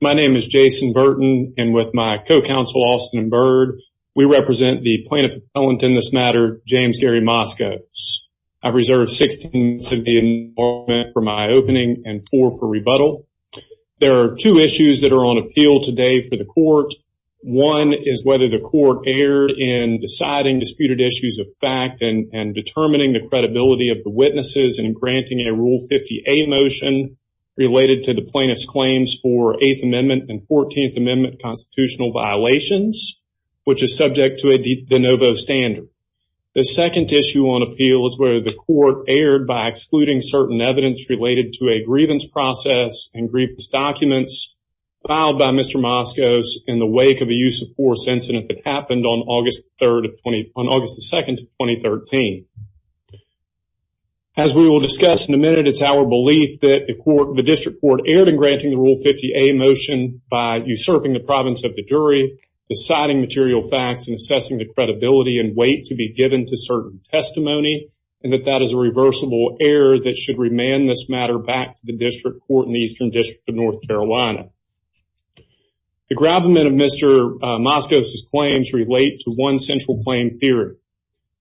My name is Jason Burton, and with my co-counsel Austin Bird, we represent the plaintiff appellant in this matter, James Gary Moskos. I've reserved 16 minutes of the information for my opening and four for rebuttal. There are two issues that are on appeal today for the court. One is whether the court erred in deciding disputed issues of fact and determining the credibility of the witnesses and granting a Rule 50A motion related to the plaintiff's claims for Eighth Amendment and Fourteenth Amendment constitutional violations, which is subject to a de novo standard. The second issue on appeal is whether the court erred by excluding certain evidence related to a grievance process and grievance documents filed by Mr. Moskos in the wake of a use of force incident that happened on August 3rd of 20, on August 2nd of 2013. As we will discuss in a minute, it's our belief that the court, the district court, erred in granting the Rule 50A motion by usurping the province of the jury, deciding material facts, and assessing the credibility and weight to be given to certain testimony, and that that is a reversible error that should remand this matter back to the district court in the Eastern District of North Carolina. The gravamen of Mr. Moskos' claims relate to one central claim theory,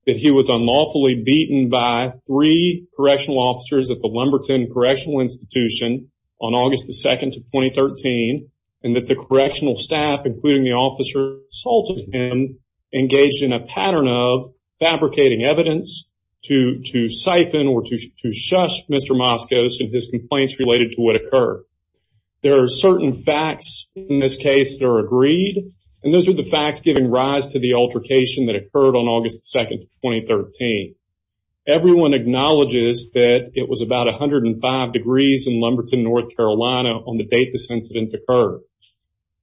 that he was unlawfully beaten by three correctional officers at the second to 2013, and that the correctional staff, including the officer who assaulted him, engaged in a pattern of fabricating evidence to siphon or to shush Mr. Moskos and his complaints related to what occurred. There are certain facts in this case that are agreed, and those are the facts giving rise to the altercation that occurred on August 2nd, 2013. Everyone acknowledges that it was about 105 degrees in Lumberton, North Carolina on the date this incident occurred.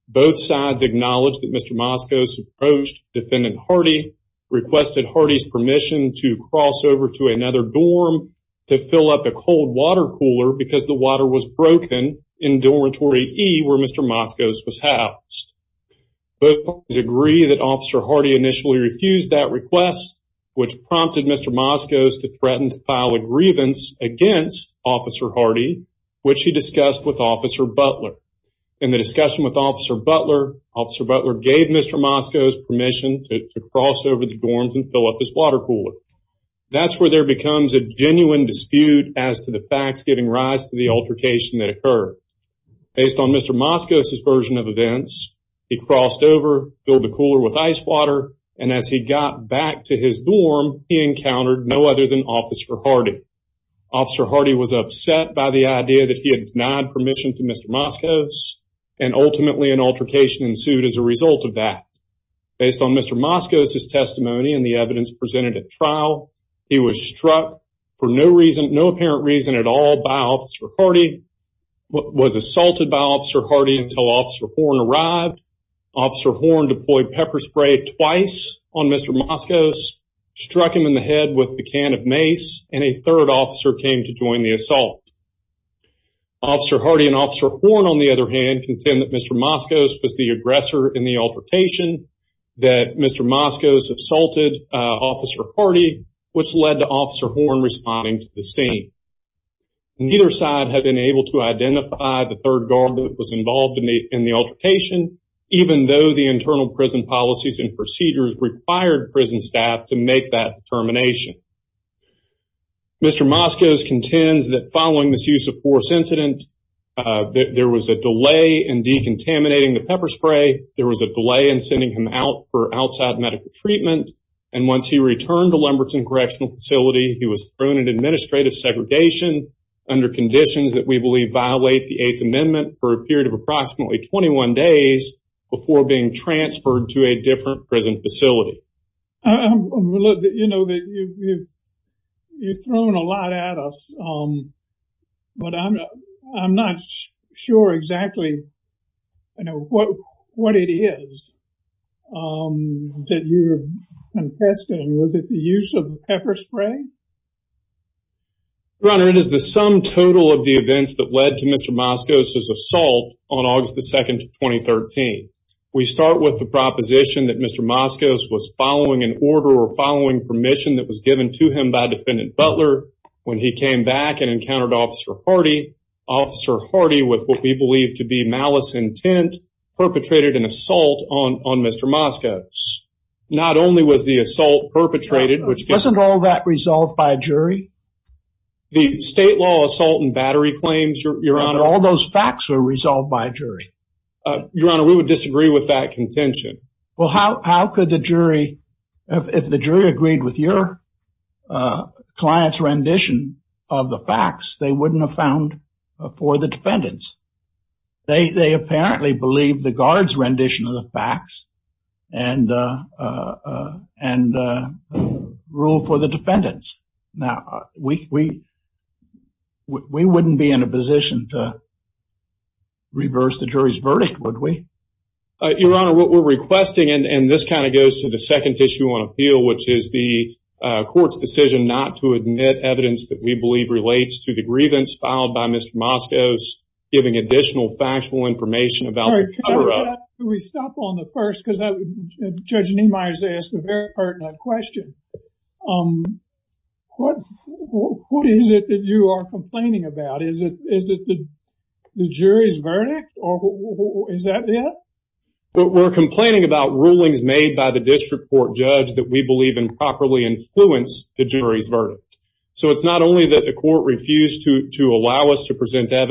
Both sides acknowledge that Mr. Moskos approached Defendant Hardy, requested Hardy's permission to cross over to another dorm to fill up a cold water cooler because the water was broken in dormitory E where Mr. Moskos was housed. Both parties agree that Officer Hardy initially refused that request, which prompted Mr. Moskos to threaten to file a grievance against Officer Hardy, which he discussed with Officer Butler. In the discussion with Officer Butler, Officer Butler gave Mr. Moskos permission to cross over the dorms and fill up his water cooler. That's where there becomes a genuine dispute as to the facts giving rise to the altercation that occurred. Based on Mr. Moskos' version of events, he crossed over, filled the cooler with ice water, and as he got back to his dorm, he encountered no other than Officer Hardy. Officer Hardy was upset by the idea that he had denied permission to Mr. Moskos, and ultimately an altercation ensued as a result of that. Based on Mr. Moskos' testimony and the evidence presented at trial, he was struck for no apparent reason at all by Officer Hardy, was assaulted by Officer Hardy until Officer Horn arrived. Officer Horn deployed pepper spray twice on Mr. Moskos, struck him in the head with the can of mace, and a third officer came to join the assault. Officer Hardy and Officer Horn, on the other hand, contend that Mr. Moskos was the aggressor in the altercation, that Mr. Moskos assaulted Officer Hardy, which led to Officer Horn responding to the scene. Neither side had been able to identify the third guard that was required prison staff to make that determination. Mr. Moskos contends that following this use of force incident, that there was a delay in decontaminating the pepper spray, there was a delay in sending him out for outside medical treatment, and once he returned to Lemberton Correctional Facility, he was thrown in administrative segregation under conditions that we believe violate the Eighth Amendment for a period of approximately 21 days before being transferred to a different prison facility. You've thrown a lot at us, but I'm not sure exactly what it is that you're contesting. Was it the use of pepper spray? Your Honor, it is the sum total of the events that led to Mr. Moskos' assault on August the 22nd, 2013. We start with the proposition that Mr. Moskos was following an order or following permission that was given to him by Defendant Butler when he came back and encountered Officer Hardy. Officer Hardy, with what we believe to be malice intent, perpetrated an assault on Mr. Moskos. Not only was the assault perpetrated... Wasn't all that resolved by a jury? The state law assault and battery claims, Your Honor... All those facts were resolved by a jury. Your Honor, we would disagree with that contention. Well, how could the jury... If the jury agreed with your client's rendition of the facts, they wouldn't have found for the defendants. They apparently believe the guard's rendition of the facts and ruled for the defendants. Now, we wouldn't be in a position to reverse the jury's verdict, would we? Your Honor, what we're requesting, and this kind of goes to the second issue on appeal, which is the court's decision not to admit evidence that we believe relates to the grievance filed by Mr. Moskos, giving additional factual information about the cover-up. We stop on the first, because Judge Niemeyer has asked a very pertinent question. What is it that you are complaining about? Is it the jury's verdict? We're complaining about rulings made by the district court judge that we believe improperly influenced the jury's verdict. So it's not only that the court refused to allow us to present jury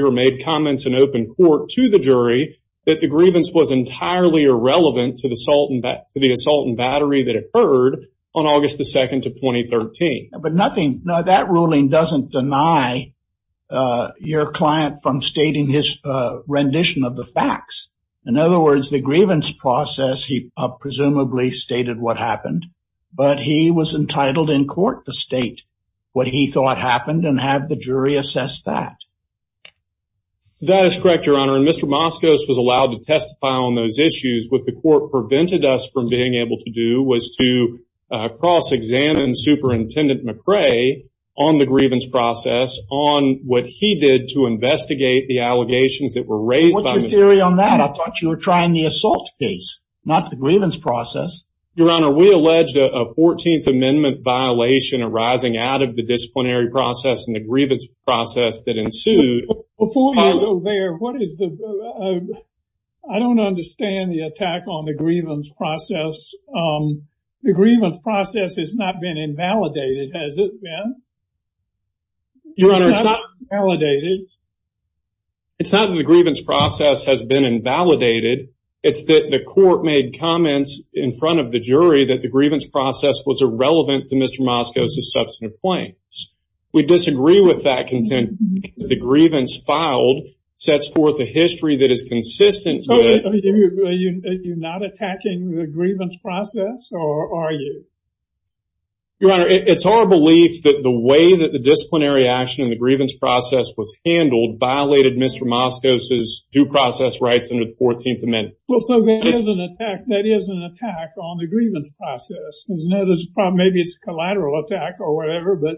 or made comments in open court to the jury that the grievance was entirely irrelevant to the assault and battery that occurred on August the 2nd of 2013. But nothing... No, that ruling doesn't deny your client from stating his rendition of the facts. In other words, the grievance process, he presumably stated what happened, but he was entitled in court to state what he thought happened and have the jury assess that. That is correct, Your Honor. And Mr. Moskos was allowed to testify on those issues. What the court prevented us from being able to do was to cross-examine Superintendent McRae on the grievance process on what he did to investigate the allegations that were raised by... What's your theory on that? I thought you were trying the assault case, not the grievance process. Your Honor, we alleged a 14th Amendment violation arising out of the disciplinary process and the grievance process that ensued. Before you go there, what is the... I don't understand the attack on the grievance process. The grievance process has not been invalidated, has it been? Your Honor, it's not invalidated. It's not that the grievance process has been invalidated. It's that the court made comments in front of the jury that the grievance process was irrelevant to Mr. Moskos' substantive claims. We disagree with that content. The grievance filed sets forth a history that is consistent... You're not attacking the grievance process, or are you? Your Honor, it's our belief that the way that the disciplinary action and the grievance process was handled violated Mr. Moskos' due grievance process. Maybe it's a collateral attack or whatever, but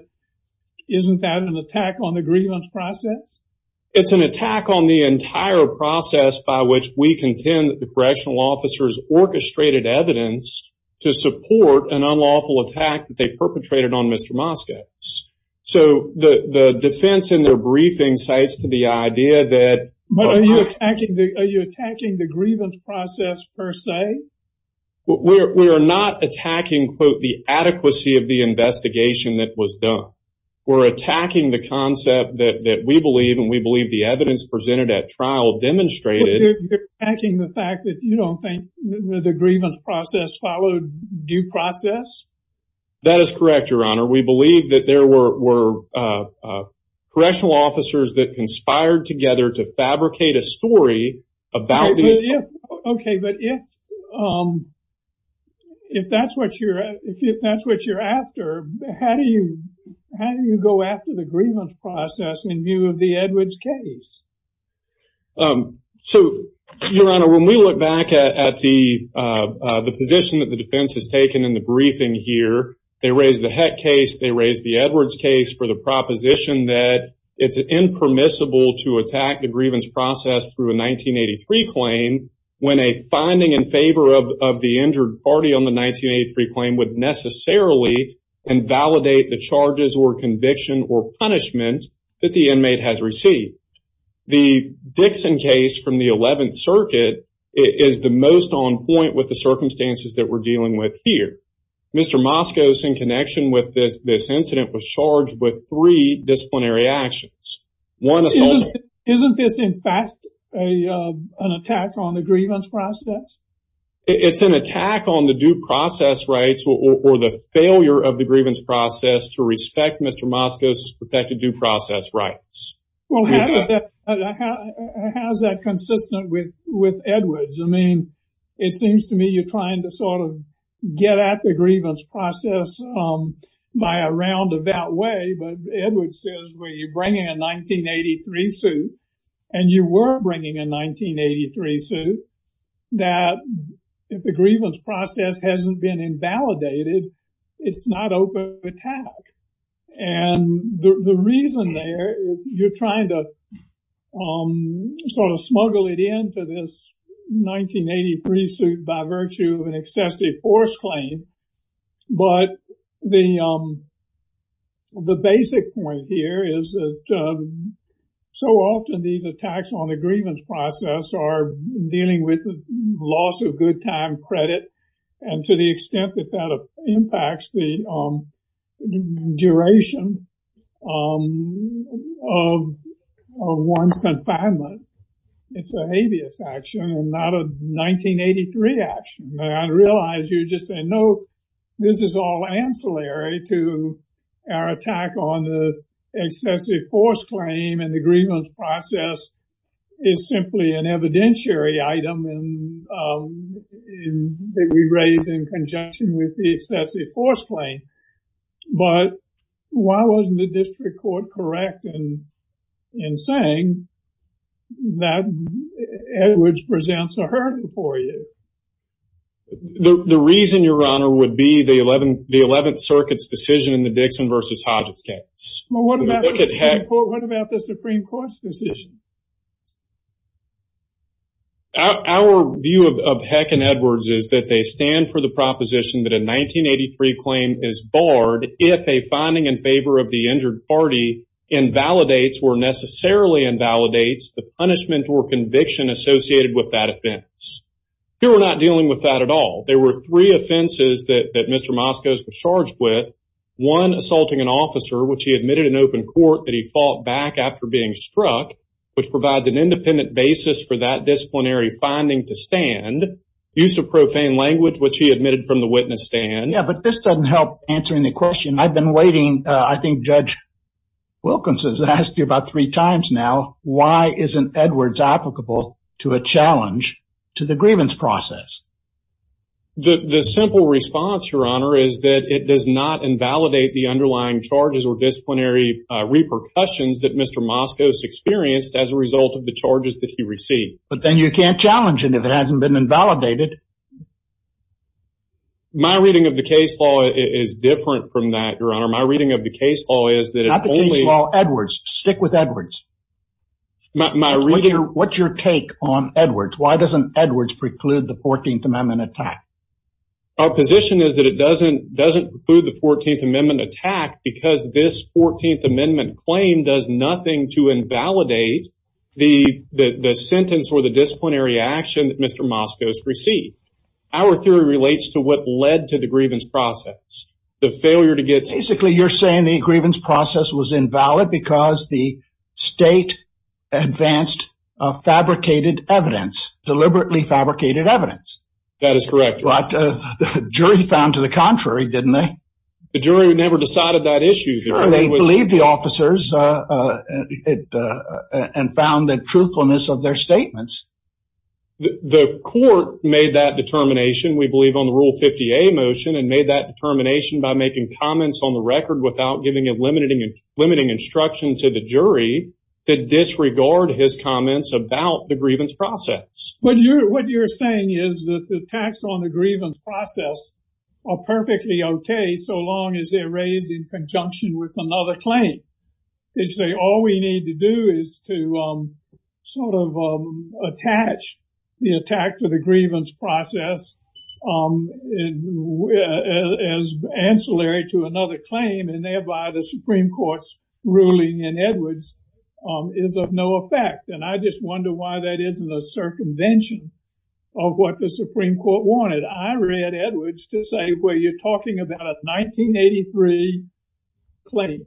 isn't that an attack on the grievance process? It's an attack on the entire process by which we contend that the correctional officers orchestrated evidence to support an unlawful attack that they perpetrated on Mr. Moskos. So the defense in their briefing cites to the idea that... Are you attacking the grievance process per se? We are not attacking, quote, the adequacy of the investigation that was done. We're attacking the concept that we believe and we believe the evidence presented at trial demonstrated... You're attacking the fact that you don't think the grievance process followed due process? That is correct, Your Honor. We believe that there were correctional officers that conspired together to fabricate a story about... Okay, but if that's what you're after, how do you go after the grievance process in view of the Edwards case? So, Your Honor, when we look back at the position that the defense has taken in the briefing here, they raised the Heck case, they raised the Edwards case for the proposition that it's impermissible to attack the grievance process through a 1983 claim when a finding in favor of the injured party on the 1983 claim would necessarily invalidate the charges or conviction or punishment that the inmate has received. The Dixon case from the 11th Circuit is the most on connection with this incident was charged with three disciplinary actions. Isn't this, in fact, an attack on the grievance process? It's an attack on the due process rights or the failure of the grievance process to respect Mr. Moskos' protected due process rights. Well, how is that consistent with Edwards? I mean, it seems to me you're trying to sort of get at the grievance process by a roundabout way, but Edwards says when you're bringing a 1983 suit, and you were bringing a 1983 suit, that if the grievance process hasn't been invalidated, it's not open to attack. And the reason there is you're trying to sort of smuggle it into this 1983 suit by virtue of an excessive force claim. But the basic point here is that so often these attacks on the grievance process are dealing with the loss of good time credit. And to the extent that that impacts the duration of one's confinement, it's a habeas action and not a 1983 action. I realize you're just saying, no, this is all ancillary to our attack on the excessive force claim and the grievance process is simply an evidentiary item in that we raise in conjunction with the excessive force claim. But why wasn't the district court correct in saying that Edwards presents a hurdle for you? The reason, Your Honor, would be the 11th Circuit's decision in the Dixon versus Hodges case. Well, what about the Supreme Court's decision? Our view of Heck and Edwards is that they stand for the proposition that a 1983 claim is barred if a finding in favor of the injured party invalidates or necessarily invalidates the punishment or conviction associated with that offense. Here, we're not dealing with that at all. There were three offenses that Mr. Moskos was charged with. One, assaulting an officer, which he admitted in open court that he fought back after being struck. Which provides an independent basis for that disciplinary finding to stand. Use of profane language, which he admitted from the witness stand. Yeah, but this doesn't help answering the question. I've been waiting, I think Judge Wilkins has asked you about three times now, why isn't Edwards applicable to a challenge to the grievance process? The simple response, Your Honor, is that it does not invalidate the underlying charges or as a result of the charges that he received. But then you can't challenge it if it hasn't been invalidated. My reading of the case law is different from that, Your Honor. My reading of the case law is that- Not the case law, Edwards. Stick with Edwards. What's your take on Edwards? Why doesn't Edwards preclude the 14th Amendment attack? Our position is that it doesn't preclude the 14th Amendment attack because this 14th Amendment claim does nothing to invalidate the sentence or the disciplinary action that Mr. Moskos received. Our theory relates to what led to the grievance process, the failure to get- Basically, you're saying the grievance process was invalid because the state advanced fabricated evidence, deliberately fabricated evidence. That is correct. But the jury found to the contrary, didn't they? The jury never decided that issue, Your Honor. They believed the officers and found the truthfulness of their statements. The court made that determination, we believe, on the Rule 50A motion and made that determination by making comments on the record without giving a limiting instruction to the jury to disregard his comments about the grievance process. What you're saying is that the attacks on the grievance process are perfectly okay so long as they're raised in conjunction with another claim. They say all we need to do is to sort of attach the attack to the grievance process as ancillary to another claim and thereby the Supreme Court's ruling in Edwards is of no effect. I just wonder why that isn't a circumvention of what the Supreme Court wanted. I read Edwards to say, well, you're talking about a 1983 claim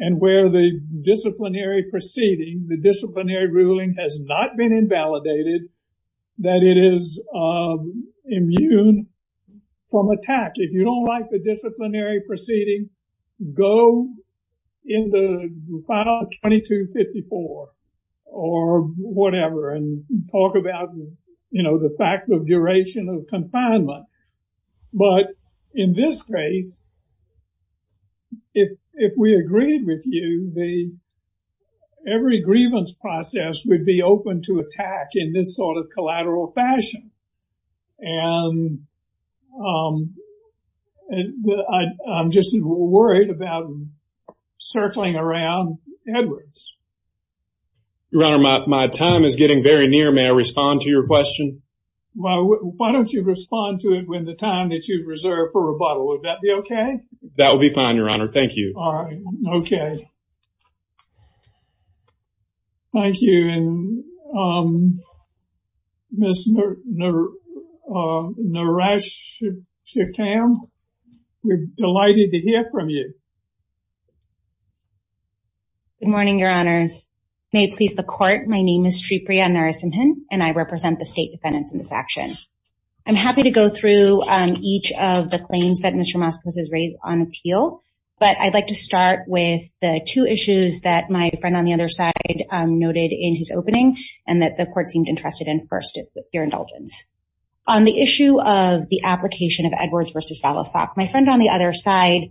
and where the disciplinary proceeding, the disciplinary ruling has not been invalidated, that it is immune from attack. If you don't like the disciplinary proceeding, go in the final 2254 or whatever and talk about, you know, the fact of duration of confinement. But in this case, if we agreed with you, every grievance process would be open to worried about circling around Edwards. Your Honor, my time is getting very near. May I respond to your question? Well, why don't you respond to it with the time that you've reserved for rebuttal. Would that be okay? That would be fine, Your Honor. Thank you. All right. Okay. Thank you. And Ms. Narasimhan, we're delighted to hear from you. Good morning, Your Honors. May it please the Court, my name is Tripriya Narasimhan and I represent the state defendants in this action. I'm happy to go through each of the claims that two issues that my friend on the other side noted in his opening and that the Court seemed interested in first with your indulgence. On the issue of the application of Edwards versus Valasok, my friend on the other side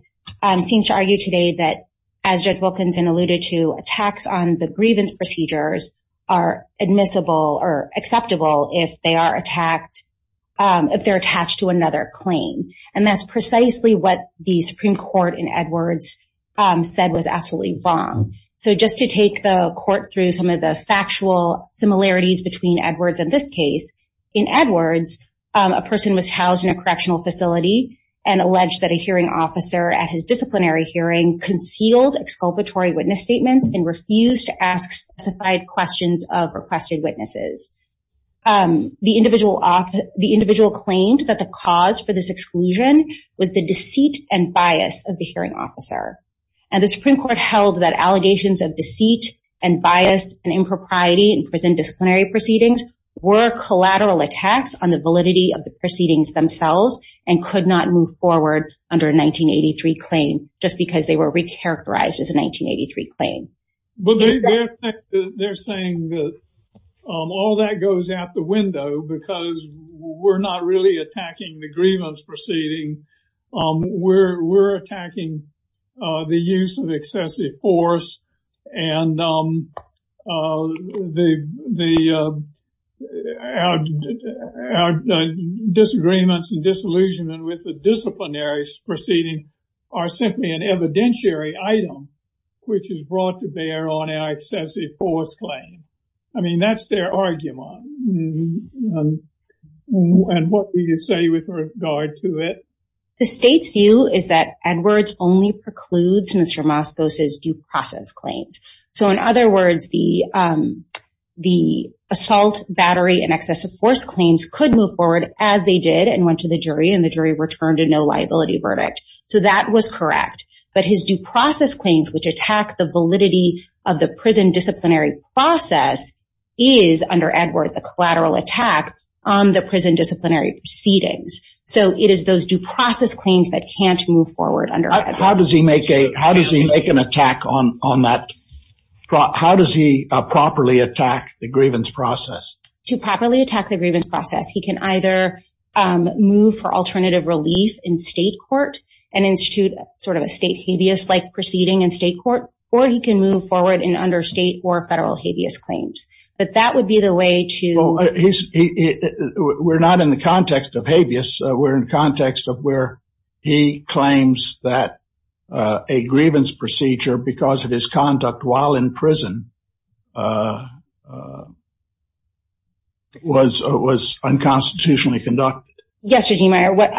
seems to argue today that, as Judge Wilkinson alluded to, attacks on the grievance procedures are admissible or acceptable if they are attacked, if they're attached to another claim. And that's precisely what the Supreme Court in Edwards said was absolutely wrong. So just to take the Court through some of the factual similarities between Edwards and this case, in Edwards, a person was housed in a correctional facility and alleged that a hearing officer at his disciplinary hearing concealed exculpatory witness statements and refused to ask specified questions of requested witnesses. The individual claimed that the cause for this exclusion was the deceit and bias of the hearing officer. And the Supreme Court held that allegations of deceit and bias and impropriety in prison disciplinary proceedings were collateral attacks on the validity of the proceedings themselves and could not move forward under a 1983 claim just because they were recharacterized as a 1983 claim. But they're saying that all that goes out the window because we're not really the use of excessive force and the disagreements and disillusionment with the disciplinary proceedings are simply an evidentiary item which is brought to bear on an excessive force claim. I mean, that's their argument. And what do you say with regard to it? The state's view is that Edwards only precludes Mr. Moskos' due process claims. So in other words, the assault, battery, and excessive force claims could move forward as they did and went to the jury and the jury returned a no liability verdict. So that was correct. But his due process claims which attack the validity of the prison disciplinary process is, under Edwards, a collateral attack on the prison disciplinary proceedings. So it is those due process claims that can't move forward under Edwards. How does he make an attack on that? How does he properly attack the grievance process? To properly attack the grievance process, he can either move for alternative relief in state court and institute sort of a state habeas-like proceeding in state court, or he can move forward in understate or federal habeas claims. But that would be the way to... Well, we're not in the context of habeas. We're in context of where he claims that a grievance procedure because of his conduct while in prison was unconstitutionally conducted. Yes, Eugene Meyer, what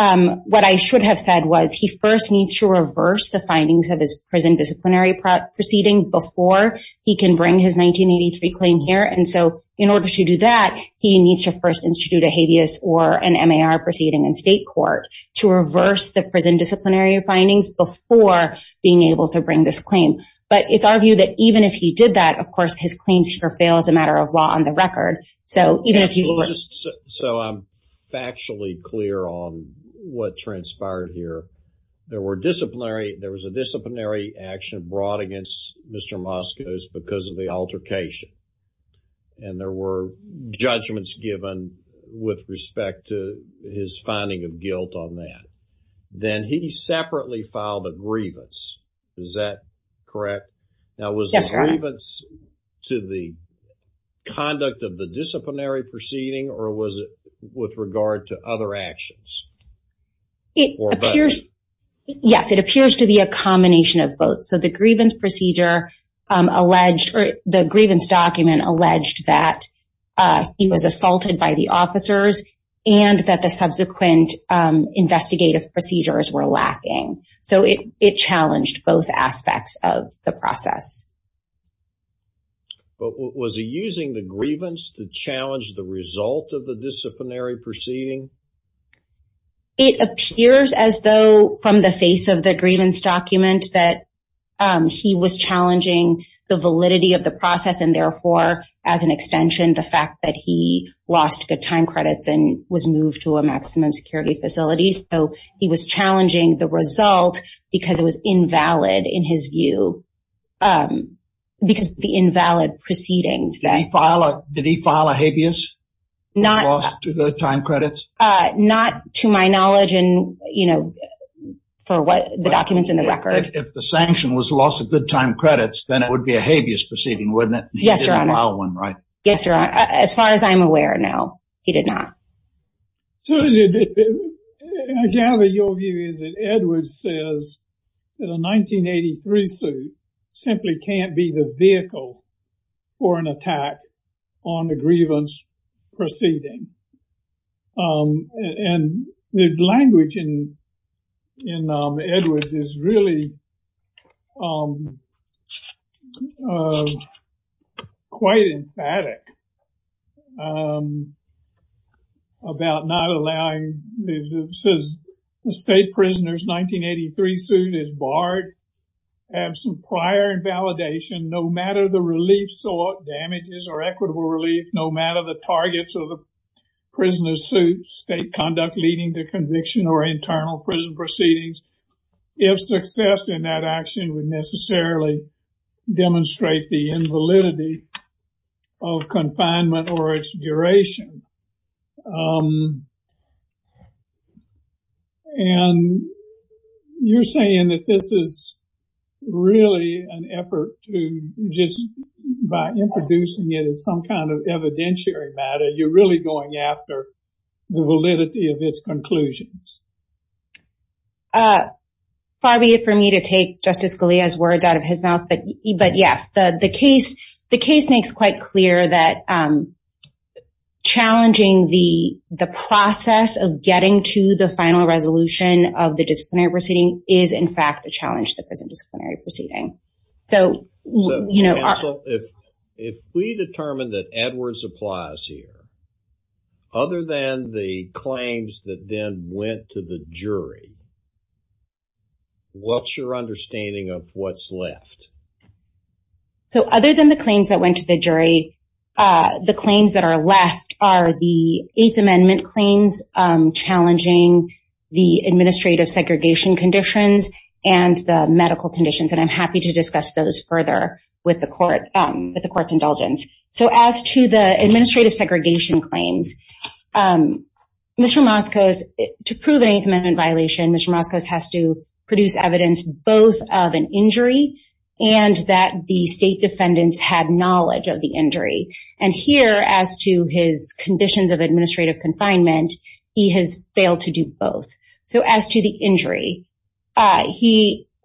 I should have said was he first needs to reverse the findings of his prison disciplinary proceeding before he can bring his 1983 claim here. And so in order to do that, he needs to first institute a habeas or an MAR proceeding in state court to reverse the prison disciplinary findings before being able to bring this claim. But it's our view that even if he did that, of course, his claims here fail as a matter of law on the record. So even if you were... So I'm factually clear on what transpired here. There were disciplinary, there was a disciplinary action brought against Mr. Moscos because of the altercation. And there were judgments given with respect to his finding of guilt on that. Then he separately filed a grievance. Is that correct? Now, was the grievance to the conduct of the disciplinary proceeding or was it with regard to other actions? It appears... Yes, it appears to be a combination of both. So the grievance procedure alleged or the grievance document alleged that he was assaulted by the officers and that the subsequent investigative procedures were lacking. So it challenged both aspects of the process. But was he using the grievance to challenge the result of the disciplinary proceeding? It appears as though from the face of the grievance document that he was challenging the validity of the process and therefore, as an extension, the fact that he lost good time credits and was moved to a maximum security facility. So he was challenging the result because it was invalid in his view. Because the invalid proceedings that... Not to my knowledge and, you know, for what the documents in the record. If the sanction was loss of good time credits, then it would be a habeas proceeding, wouldn't it? Yes, Your Honor. He didn't allow one, right? Yes, Your Honor. As far as I'm aware, no, he did not. I gather your view is that Edwards says that a 1983 suit simply can't be the vehicle for an attack on the grievance proceeding. And the language in Edwards is really quite emphatic about not allowing... It says the state prisoner's 1983 suit is barred, absent prior validation, no matter the relief sought, damages or equitable relief, no matter the targets of the prisoner's suit, state conduct leading to conviction or internal prison proceedings. If success in that action would necessarily demonstrate the invalidity of confinement or its duration. And you're saying that this is really an effort to just by introducing it as some kind of evidentiary matter, you're really going after the validity of its conclusions. Far be it for me to take Justice Scalia's words out of his mouth, but yes, the case makes quite clear that challenging the process of getting to the final resolution of the disciplinary proceeding is in fact a challenge to the present disciplinary proceeding. So if we determine that Edwards applies here, other than the claims that then went to the jury, what's your understanding of what's left? So other than the claims that went to the jury, the claims that are left are the Eighth Amendment claims challenging the administrative segregation conditions and the medical conditions. And I'm happy to discuss those further with the court's indulgence. So as to the administrative segregation claims, Mr. Moskos, to prove an Eighth Amendment violation, Mr. Moskos has to produce evidence, both of an injury and that the state defendants had knowledge of the injury. And here as to his conditions of administrative confinement, he has failed to do both. So as to the injury, Mr.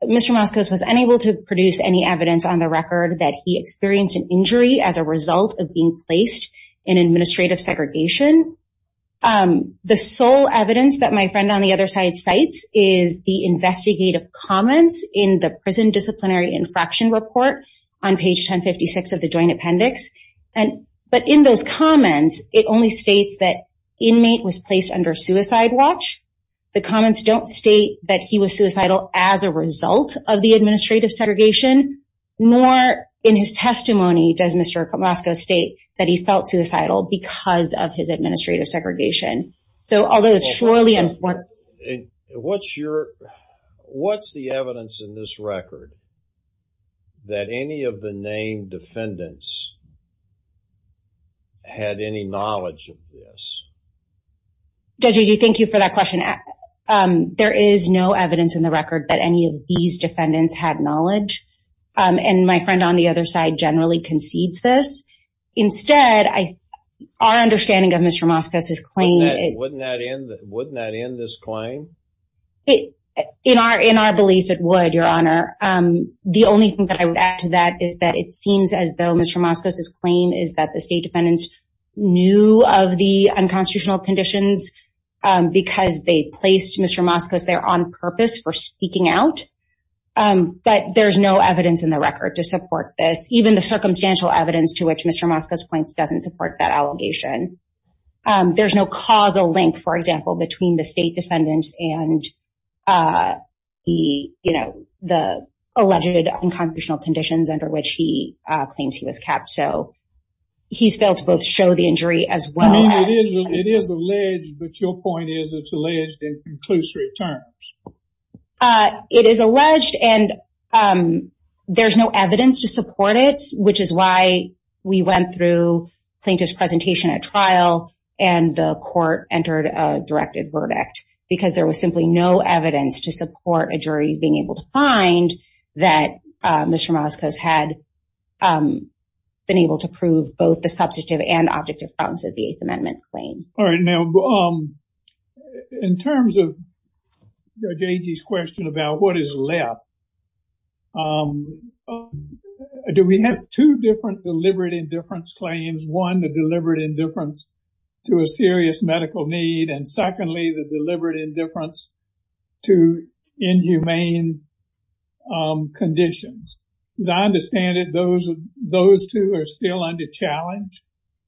Moskos was unable to produce any evidence on the record that he experienced an injury as a result of being placed in administrative segregation. The sole evidence that my friend on the other side cites is the investigative comments in the Prison Disciplinary Infraction Report on page 1056 of the Joint Appendix. But in those comments, Mr. Moskos states that he was placed under suicide watch. The comments don't state that he was suicidal as a result of the administrative segregation, nor in his testimony does Mr. Moskos state that he felt suicidal because of his administrative segregation. So although it's surely important... Well, first of all, what's your... what's the evidence in this record that any of the named defendants had any knowledge of this? Judge, thank you for that question. There is no evidence in the record that any of these defendants had knowledge. And my friend on the other side generally concedes this. Instead, our understanding of Mr. Moskos' claim... Wouldn't that end this claim? In our belief, it would, Your Honor. The only thing that I would add to that is that it seems as though Mr. Moskos' claim is that the state defendants knew of the unconstitutional conditions because they placed Mr. Moskos there on purpose for speaking out. But there's no evidence in the record to support this, even the circumstantial evidence to which Mr. Moskos points doesn't support that allegation. There's no causal link, for example, between the state defendants and the, you know, the alleged unconstitutional conditions under which he claims he was kept. So he's failed to both show the injury as well as... I mean, it is alleged, but your point is it's alleged in conclusory terms. It is alleged and there's no evidence to support it, which is why we went through plaintiff's presentation at trial and the court entered a directed verdict because there was no evidence to support a jury being able to find that Mr. Moskos had been able to prove both the substantive and objective grounds of the Eighth Amendment claim. All right. Now, in terms of J.G.'s question about what is left, do we have two different deliberate indifference claims? One, the deliberate indifference to a serious medical need. And secondly, the deliberate indifference to inhumane conditions. As I understand it, those two are still under challenge?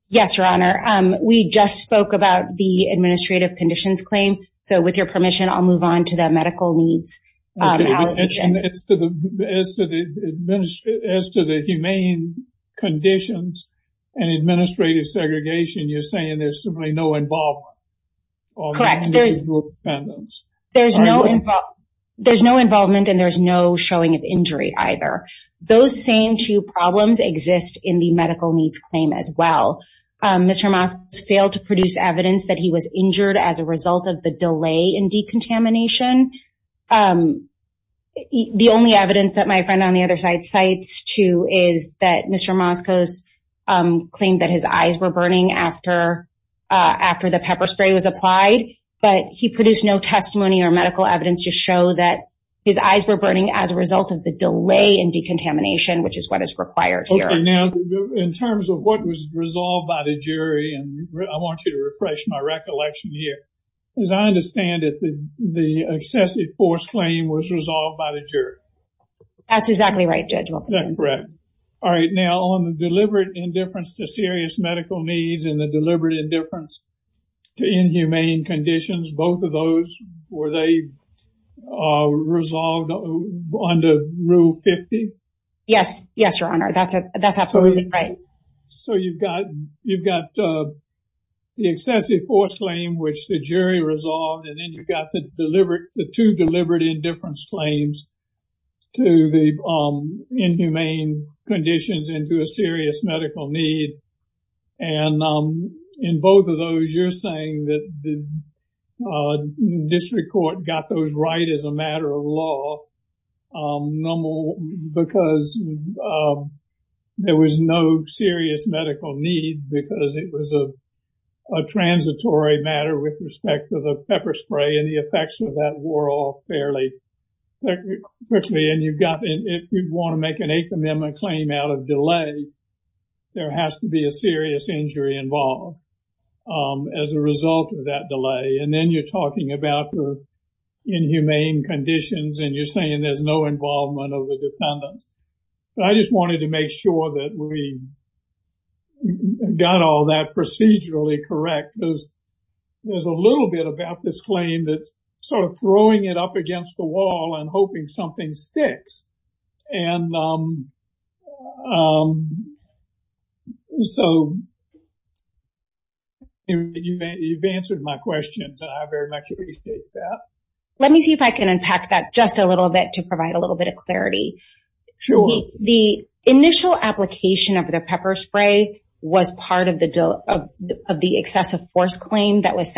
Yes, Your Honor. We just spoke about the administrative conditions claim. So with your permission, I'll move on to the medical needs allegation. As to the humane conditions and administrative segregation, you're saying there's simply no involvement? Correct. There's no involvement and there's no showing of injury either. Those same two problems exist in the medical needs claim as well. Mr. Moskos failed to produce evidence that he was injured as a result of the delay in decontamination. The only evidence that my friend on the other side cites too is that Mr. Moskos claimed that his eyes were burning after the pepper spray was applied, but he produced no testimony or medical evidence to show that his eyes were burning as a result of the delay in decontamination, which is what is required here. In terms of what was resolved by the jury, and I want you to refresh my recollection here, as I understand it, the excessive force claim was resolved by the jury. That's exactly right, Judge Wilkinson. Correct. All right. Now, on the deliberate indifference to serious medical needs and the deliberate indifference to inhumane conditions, both of those, were they resolved under Rule 50? Yes. Yes, Your Honor. That's absolutely right. So, you've got the excessive force claim, which the jury resolved, and then you've got the two deliberate indifference claims to the inhumane conditions and to a serious medical need. And in both of those, you're saying that the district court got those right as a matter of law because there was no serious medical need because it was a transitory matter with respect to the pepper spray and the effects of that were all fairly quickly. And if you want to make an inhumane delay, there has to be a serious injury involved as a result of that delay. And then you're talking about the inhumane conditions and you're saying there's no involvement of the defendants. But I just wanted to make sure that we got all that procedurally correct. There's a little bit about this claim that sort of throwing it up against the wall and hoping something sticks. And so, you've answered my questions and I very much appreciate that. Let me see if I can unpack that just a little bit to provide a little bit of clarity. Sure. The initial application of the pepper spray was part of the excessive force claim that was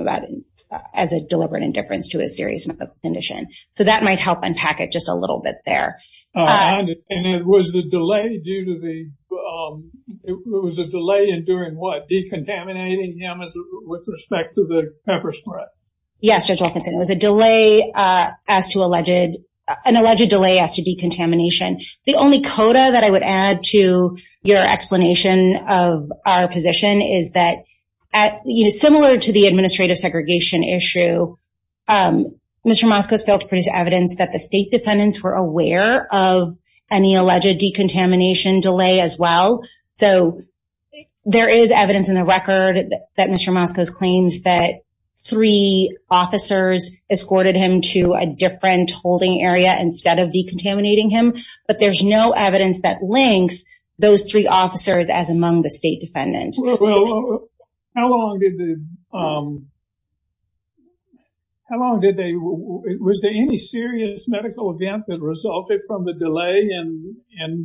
about it as a deliberate indifference to a serious medical condition. So, that might help unpack it just a little bit there. And it was a delay in doing what? Decontaminating him with respect to the pepper spray? Yes, Judge Wilkinson. It was an alleged delay as to decontamination. The only coda that I would add to your explanation of our position is that similar to the administrative segregation issue, Mr. Moskos failed to produce evidence that the state defendants were aware of any alleged decontamination delay as well. So, there is evidence in the record that Mr. Moskos claims that three officers escorted him to a different holding area instead of decontaminating him. But there's no evidence that links those three officers as among the state defendants. Was there any serious medical event that resulted from the delay in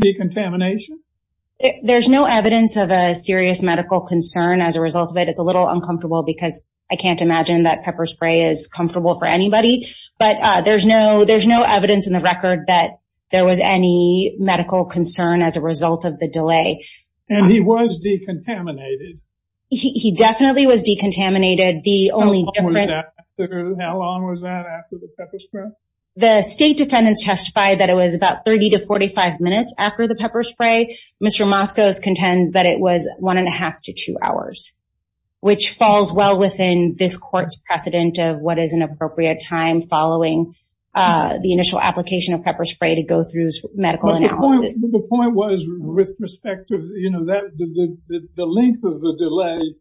decontamination? There's no evidence of a serious medical concern as a result of it. It's a little uncomfortable because I can't imagine that pepper spray is comfortable for anybody. But there's no evidence in the record that there was any medical concern as a result of the delay. And he was decontaminated? He definitely was decontaminated. How long was that after the pepper spray? The state defendants testified that it was about 30 to 45 minutes after the pepper spray. Mr. Moskos contends that it was one and a half to two hours, which falls well within this court's precedent of what is an appropriate time following the initial application of pepper spray to go through medical analysis. The point was with respect to, you know, the length of the delay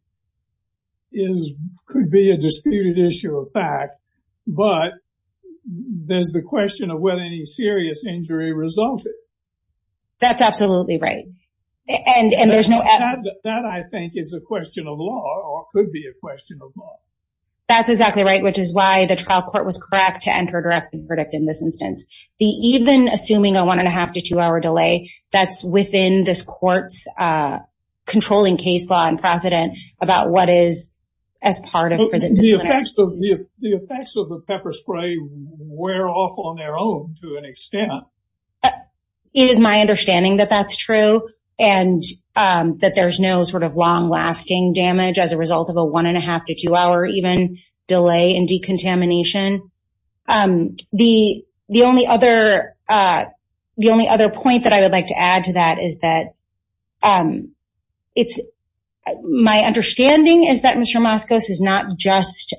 could be a disputed issue of fact, but there's the question of whether any serious injury resulted. That's absolutely right. And there's no... That I think is a question of law or could be a question of law. That's exactly right, which is why the trial court was correct to enter a direct verdict in this instance. Even assuming a one and a half to two hour delay, that's within this court's controlling case law and precedent about what is as part of... The effects of the pepper spray wear off on their own to an extent. But it is my understanding that that's true and that there's no sort of long lasting damage as a result of a one and a half to two hour even delay in decontamination. The only other point that I would like to add to that is that it's my understanding is that Mr. Moskos is not just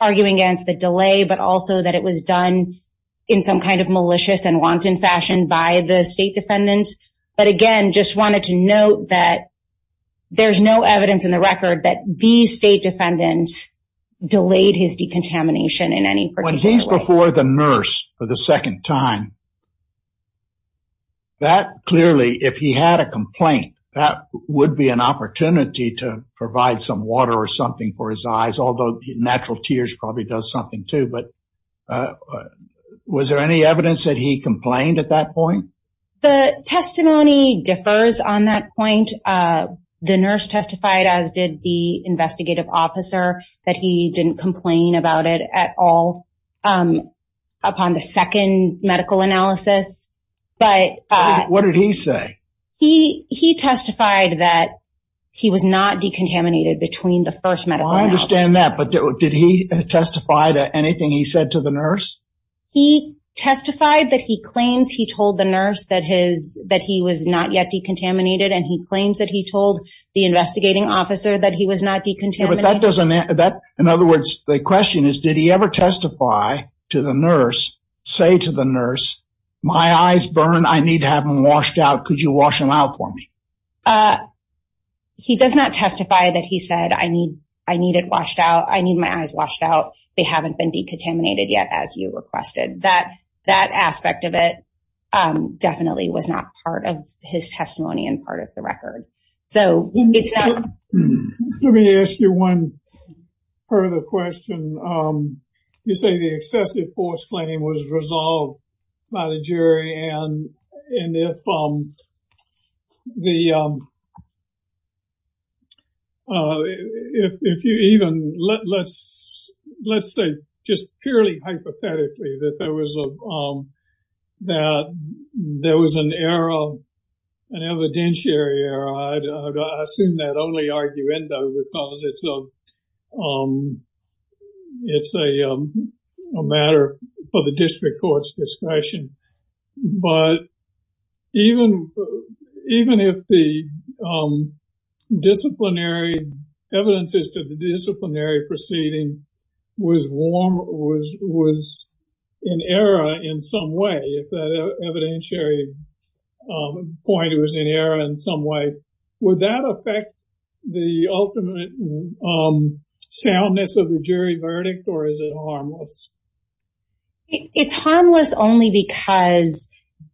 arguing against the delay, but also that it was done in some kind of malicious and wanton fashion by the state defendants. But again, just wanted to note that there's no evidence in the record that these state defendants delayed his decontamination in any particular way. When he's before the nurse for the second time, that clearly, if he had a complaint, that would be an opportunity to provide some water or for his eyes, although natural tears probably does something too. Was there any evidence that he complained at that point? The testimony differs on that point. The nurse testified, as did the investigative officer, that he didn't complain about it at all upon the second medical analysis. What did he say? He testified that he was not decontaminated between the first medical analysis. I understand that, but did he testify to anything he said to the nurse? He testified that he claims he told the nurse that he was not yet decontaminated, and he claims that he told the investigating officer that he was not decontaminated. In other words, the question is, did he ever testify to the nurse, say to the nurse, my eyes burn, I need to have them washed out, could you wash them out for me? He does not testify that he said, I need my eyes washed out, they haven't been decontaminated yet, as you requested. That aspect of it definitely was not part of his testimony and part of the record. Let me ask you one further question. You say the excessive force claim was resolved by the jury, and if you even, let's say just purely hypothetically, that there was an error, an evidentiary error, I assume that only arguendo, because it's a matter for the district court's discretion, but even if the disciplinary, evidences to the disciplinary proceeding was an error in some way, if that evidentiary point was an error in some way, would that affect the ultimate soundness of the jury verdict, or is it harmless? It's harmless only because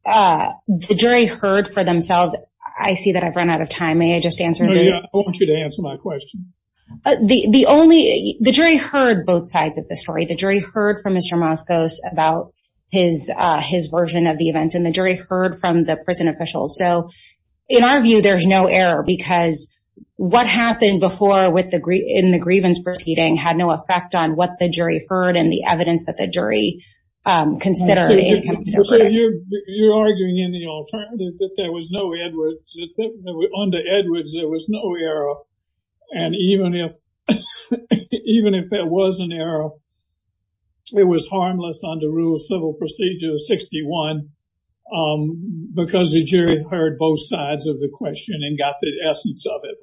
the jury heard for themselves, I see that I've run out of time, may I just answer? Yeah, I want you to answer my question. The jury heard both sides of the story, the jury heard from Mr. Moscos about his version of the events, and the jury heard from the prison officials, so in our view, there's no error, because what happened before in the grievance proceeding had no effect on what the jury heard and the evidence that the jury considered. You're arguing in the alternative that there was no error, under Edwards there was no error, and even if there was an error, it was harmless under rule civil procedure 61, because the jury heard both sides of the question and got the essence of it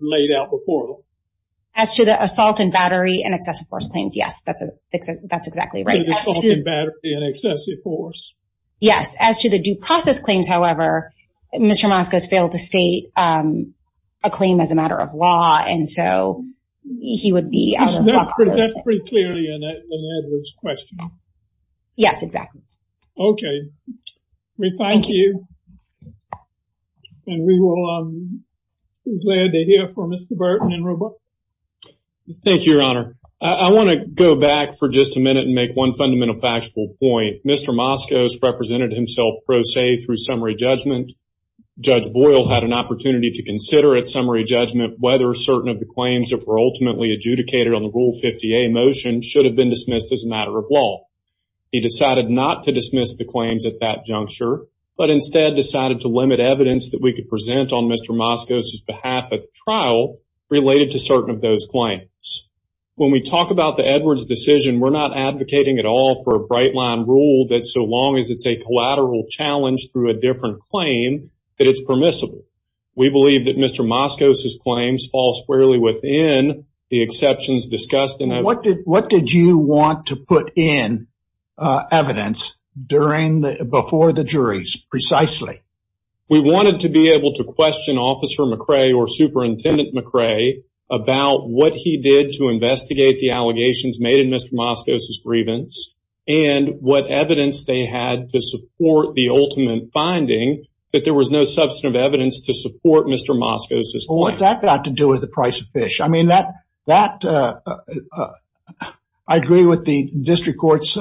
laid out before them. As to the assault and battery and excessive force claims, yes, that's exactly right. The assault and battery and excessive force. Yes, as to the due process claims, however, Mr. Moscos failed to state a claim as a matter of law, and so he would be- That's pretty clearly an Edwards question. Yes, exactly. Okay, we thank you, and we will be glad to hear from Mr. Burton and Roberts. Thank you, your honor. I want to go back for just a minute and make one fundamental factual point. Mr. Moscos represented himself pro se through summary judgment. Judge Boyle had an opportunity to consider at summary judgment whether certain of the claims that were ultimately adjudicated on the rule 50A motion should have been dismissed as a matter of law. He decided not to dismiss the evidence that we could present on Mr. Moscos' behalf at the trial related to certain of those claims. When we talk about the Edwards decision, we're not advocating at all for a bright line rule that so long as it's a collateral challenge through a different claim, that it's permissible. We believe that Mr. Moscos' claims fall squarely within the exceptions discussed in that- What did you want to put in evidence before the juries precisely? We wanted to be able to question Officer McRae or Superintendent McRae about what he did to investigate the allegations made in Mr. Moscos' grievance and what evidence they had to support the ultimate finding that there was no substantive evidence to support Mr. Moscos' point. That got to do with the price of fish. I agree with the district court's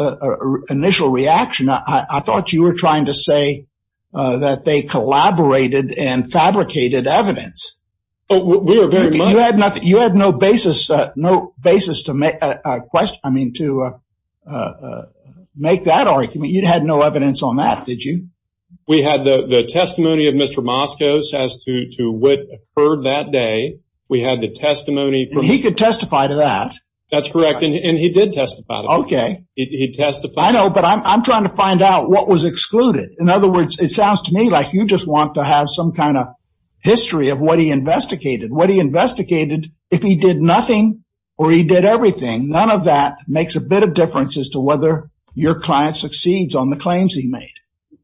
initial reaction. I thought you were trying to say that they collaborated and fabricated evidence. You had no basis to make that argument. You had no evidence on that, did you? We had the testimony of Mr. Moscos as to what occurred that day. We had the testimony- He could testify to that. That's correct, and he did testify. I know, but I'm trying to find out what was excluded. In other words, it sounds to me like you just want to have some kind of history of what he investigated. What he investigated, if he did nothing or he did everything, none of that makes a bit of difference as to whether your client succeeds on the claims he made.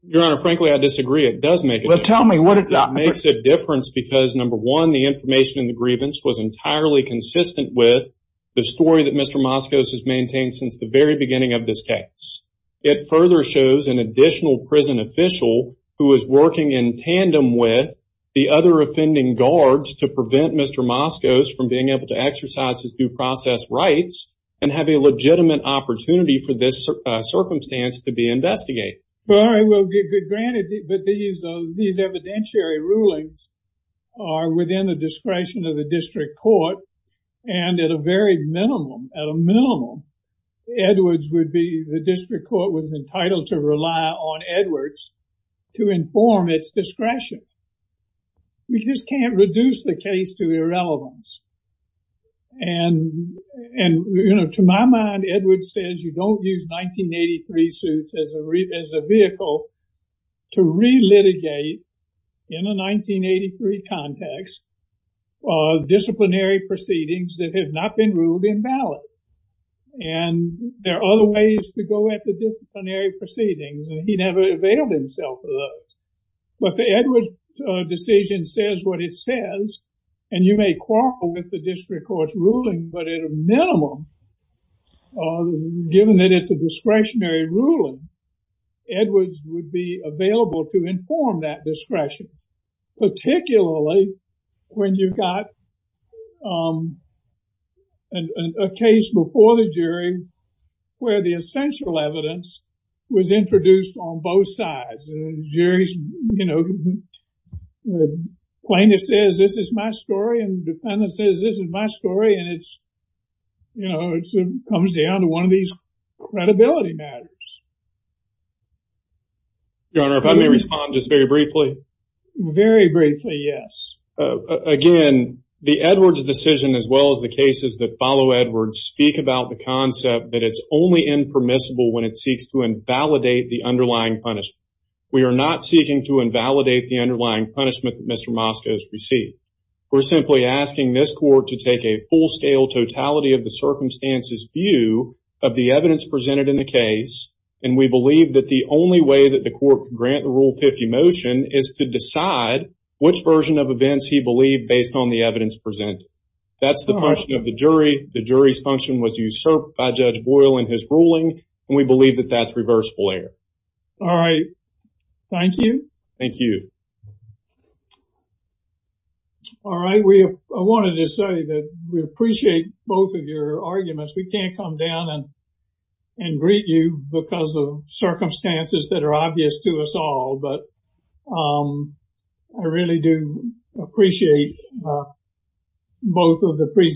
Your Honor, frankly, I disagree. It does make a difference. It makes a difference because number one, the information in the grievance was entirely consistent with the story that Mr. Moscos has maintained since the very beginning of this case. It further shows an additional prison official who is working in tandem with the other offending guards to prevent Mr. Moscos from being able to exercise his due process rights and have a circumstance to be investigated. All right, well, granted, but these evidentiary rulings are within the discretion of the district court, and at a very minimum, at a minimum, Edwards would be- the district court was entitled to rely on Edwards to inform its discretion. We just can't reduce the case to irrelevance, and to my mind, Edwards says you don't use 1983 suits as a vehicle to re-litigate, in a 1983 context, disciplinary proceedings that have not been ruled invalid. And there are other ways to go at the disciplinary proceedings, and he never availed himself of those. But the Edwards decision says what it says, and you may quarrel with the discretionary ruling, Edwards would be available to inform that discretion, particularly when you've got a case before the jury where the essential evidence was introduced on both sides. The jury, you know, plaintiff says this is my story, and the defendant says this is my story, and it's, you know, it comes down to one of these credibility matters. Your Honor, if I may respond just very briefly. Very briefly, yes. Again, the Edwards decision, as well as the cases that follow Edwards, speak about the concept that it's only impermissible when it seeks to invalidate the underlying punishment. We are not seeking to invalidate the underlying punishment that Mr. Mosca has received. We're simply asking this court to take a full-scale, totality-of-the-circumstances view of the evidence presented in the case, and we believe that the only way that the court can grant the Rule 50 motion is to decide which version of events he believed based on the evidence presented. That's the function of the jury. The jury's function was usurped by Judge Boyle in his ruling, and we believe that that's reversible error. All right. Thank you. Thank you. All right. I wanted to say that we appreciate both of your arguments. We can't come down and greet you because of circumstances that are obvious to us all, but I really do appreciate both of the presentations.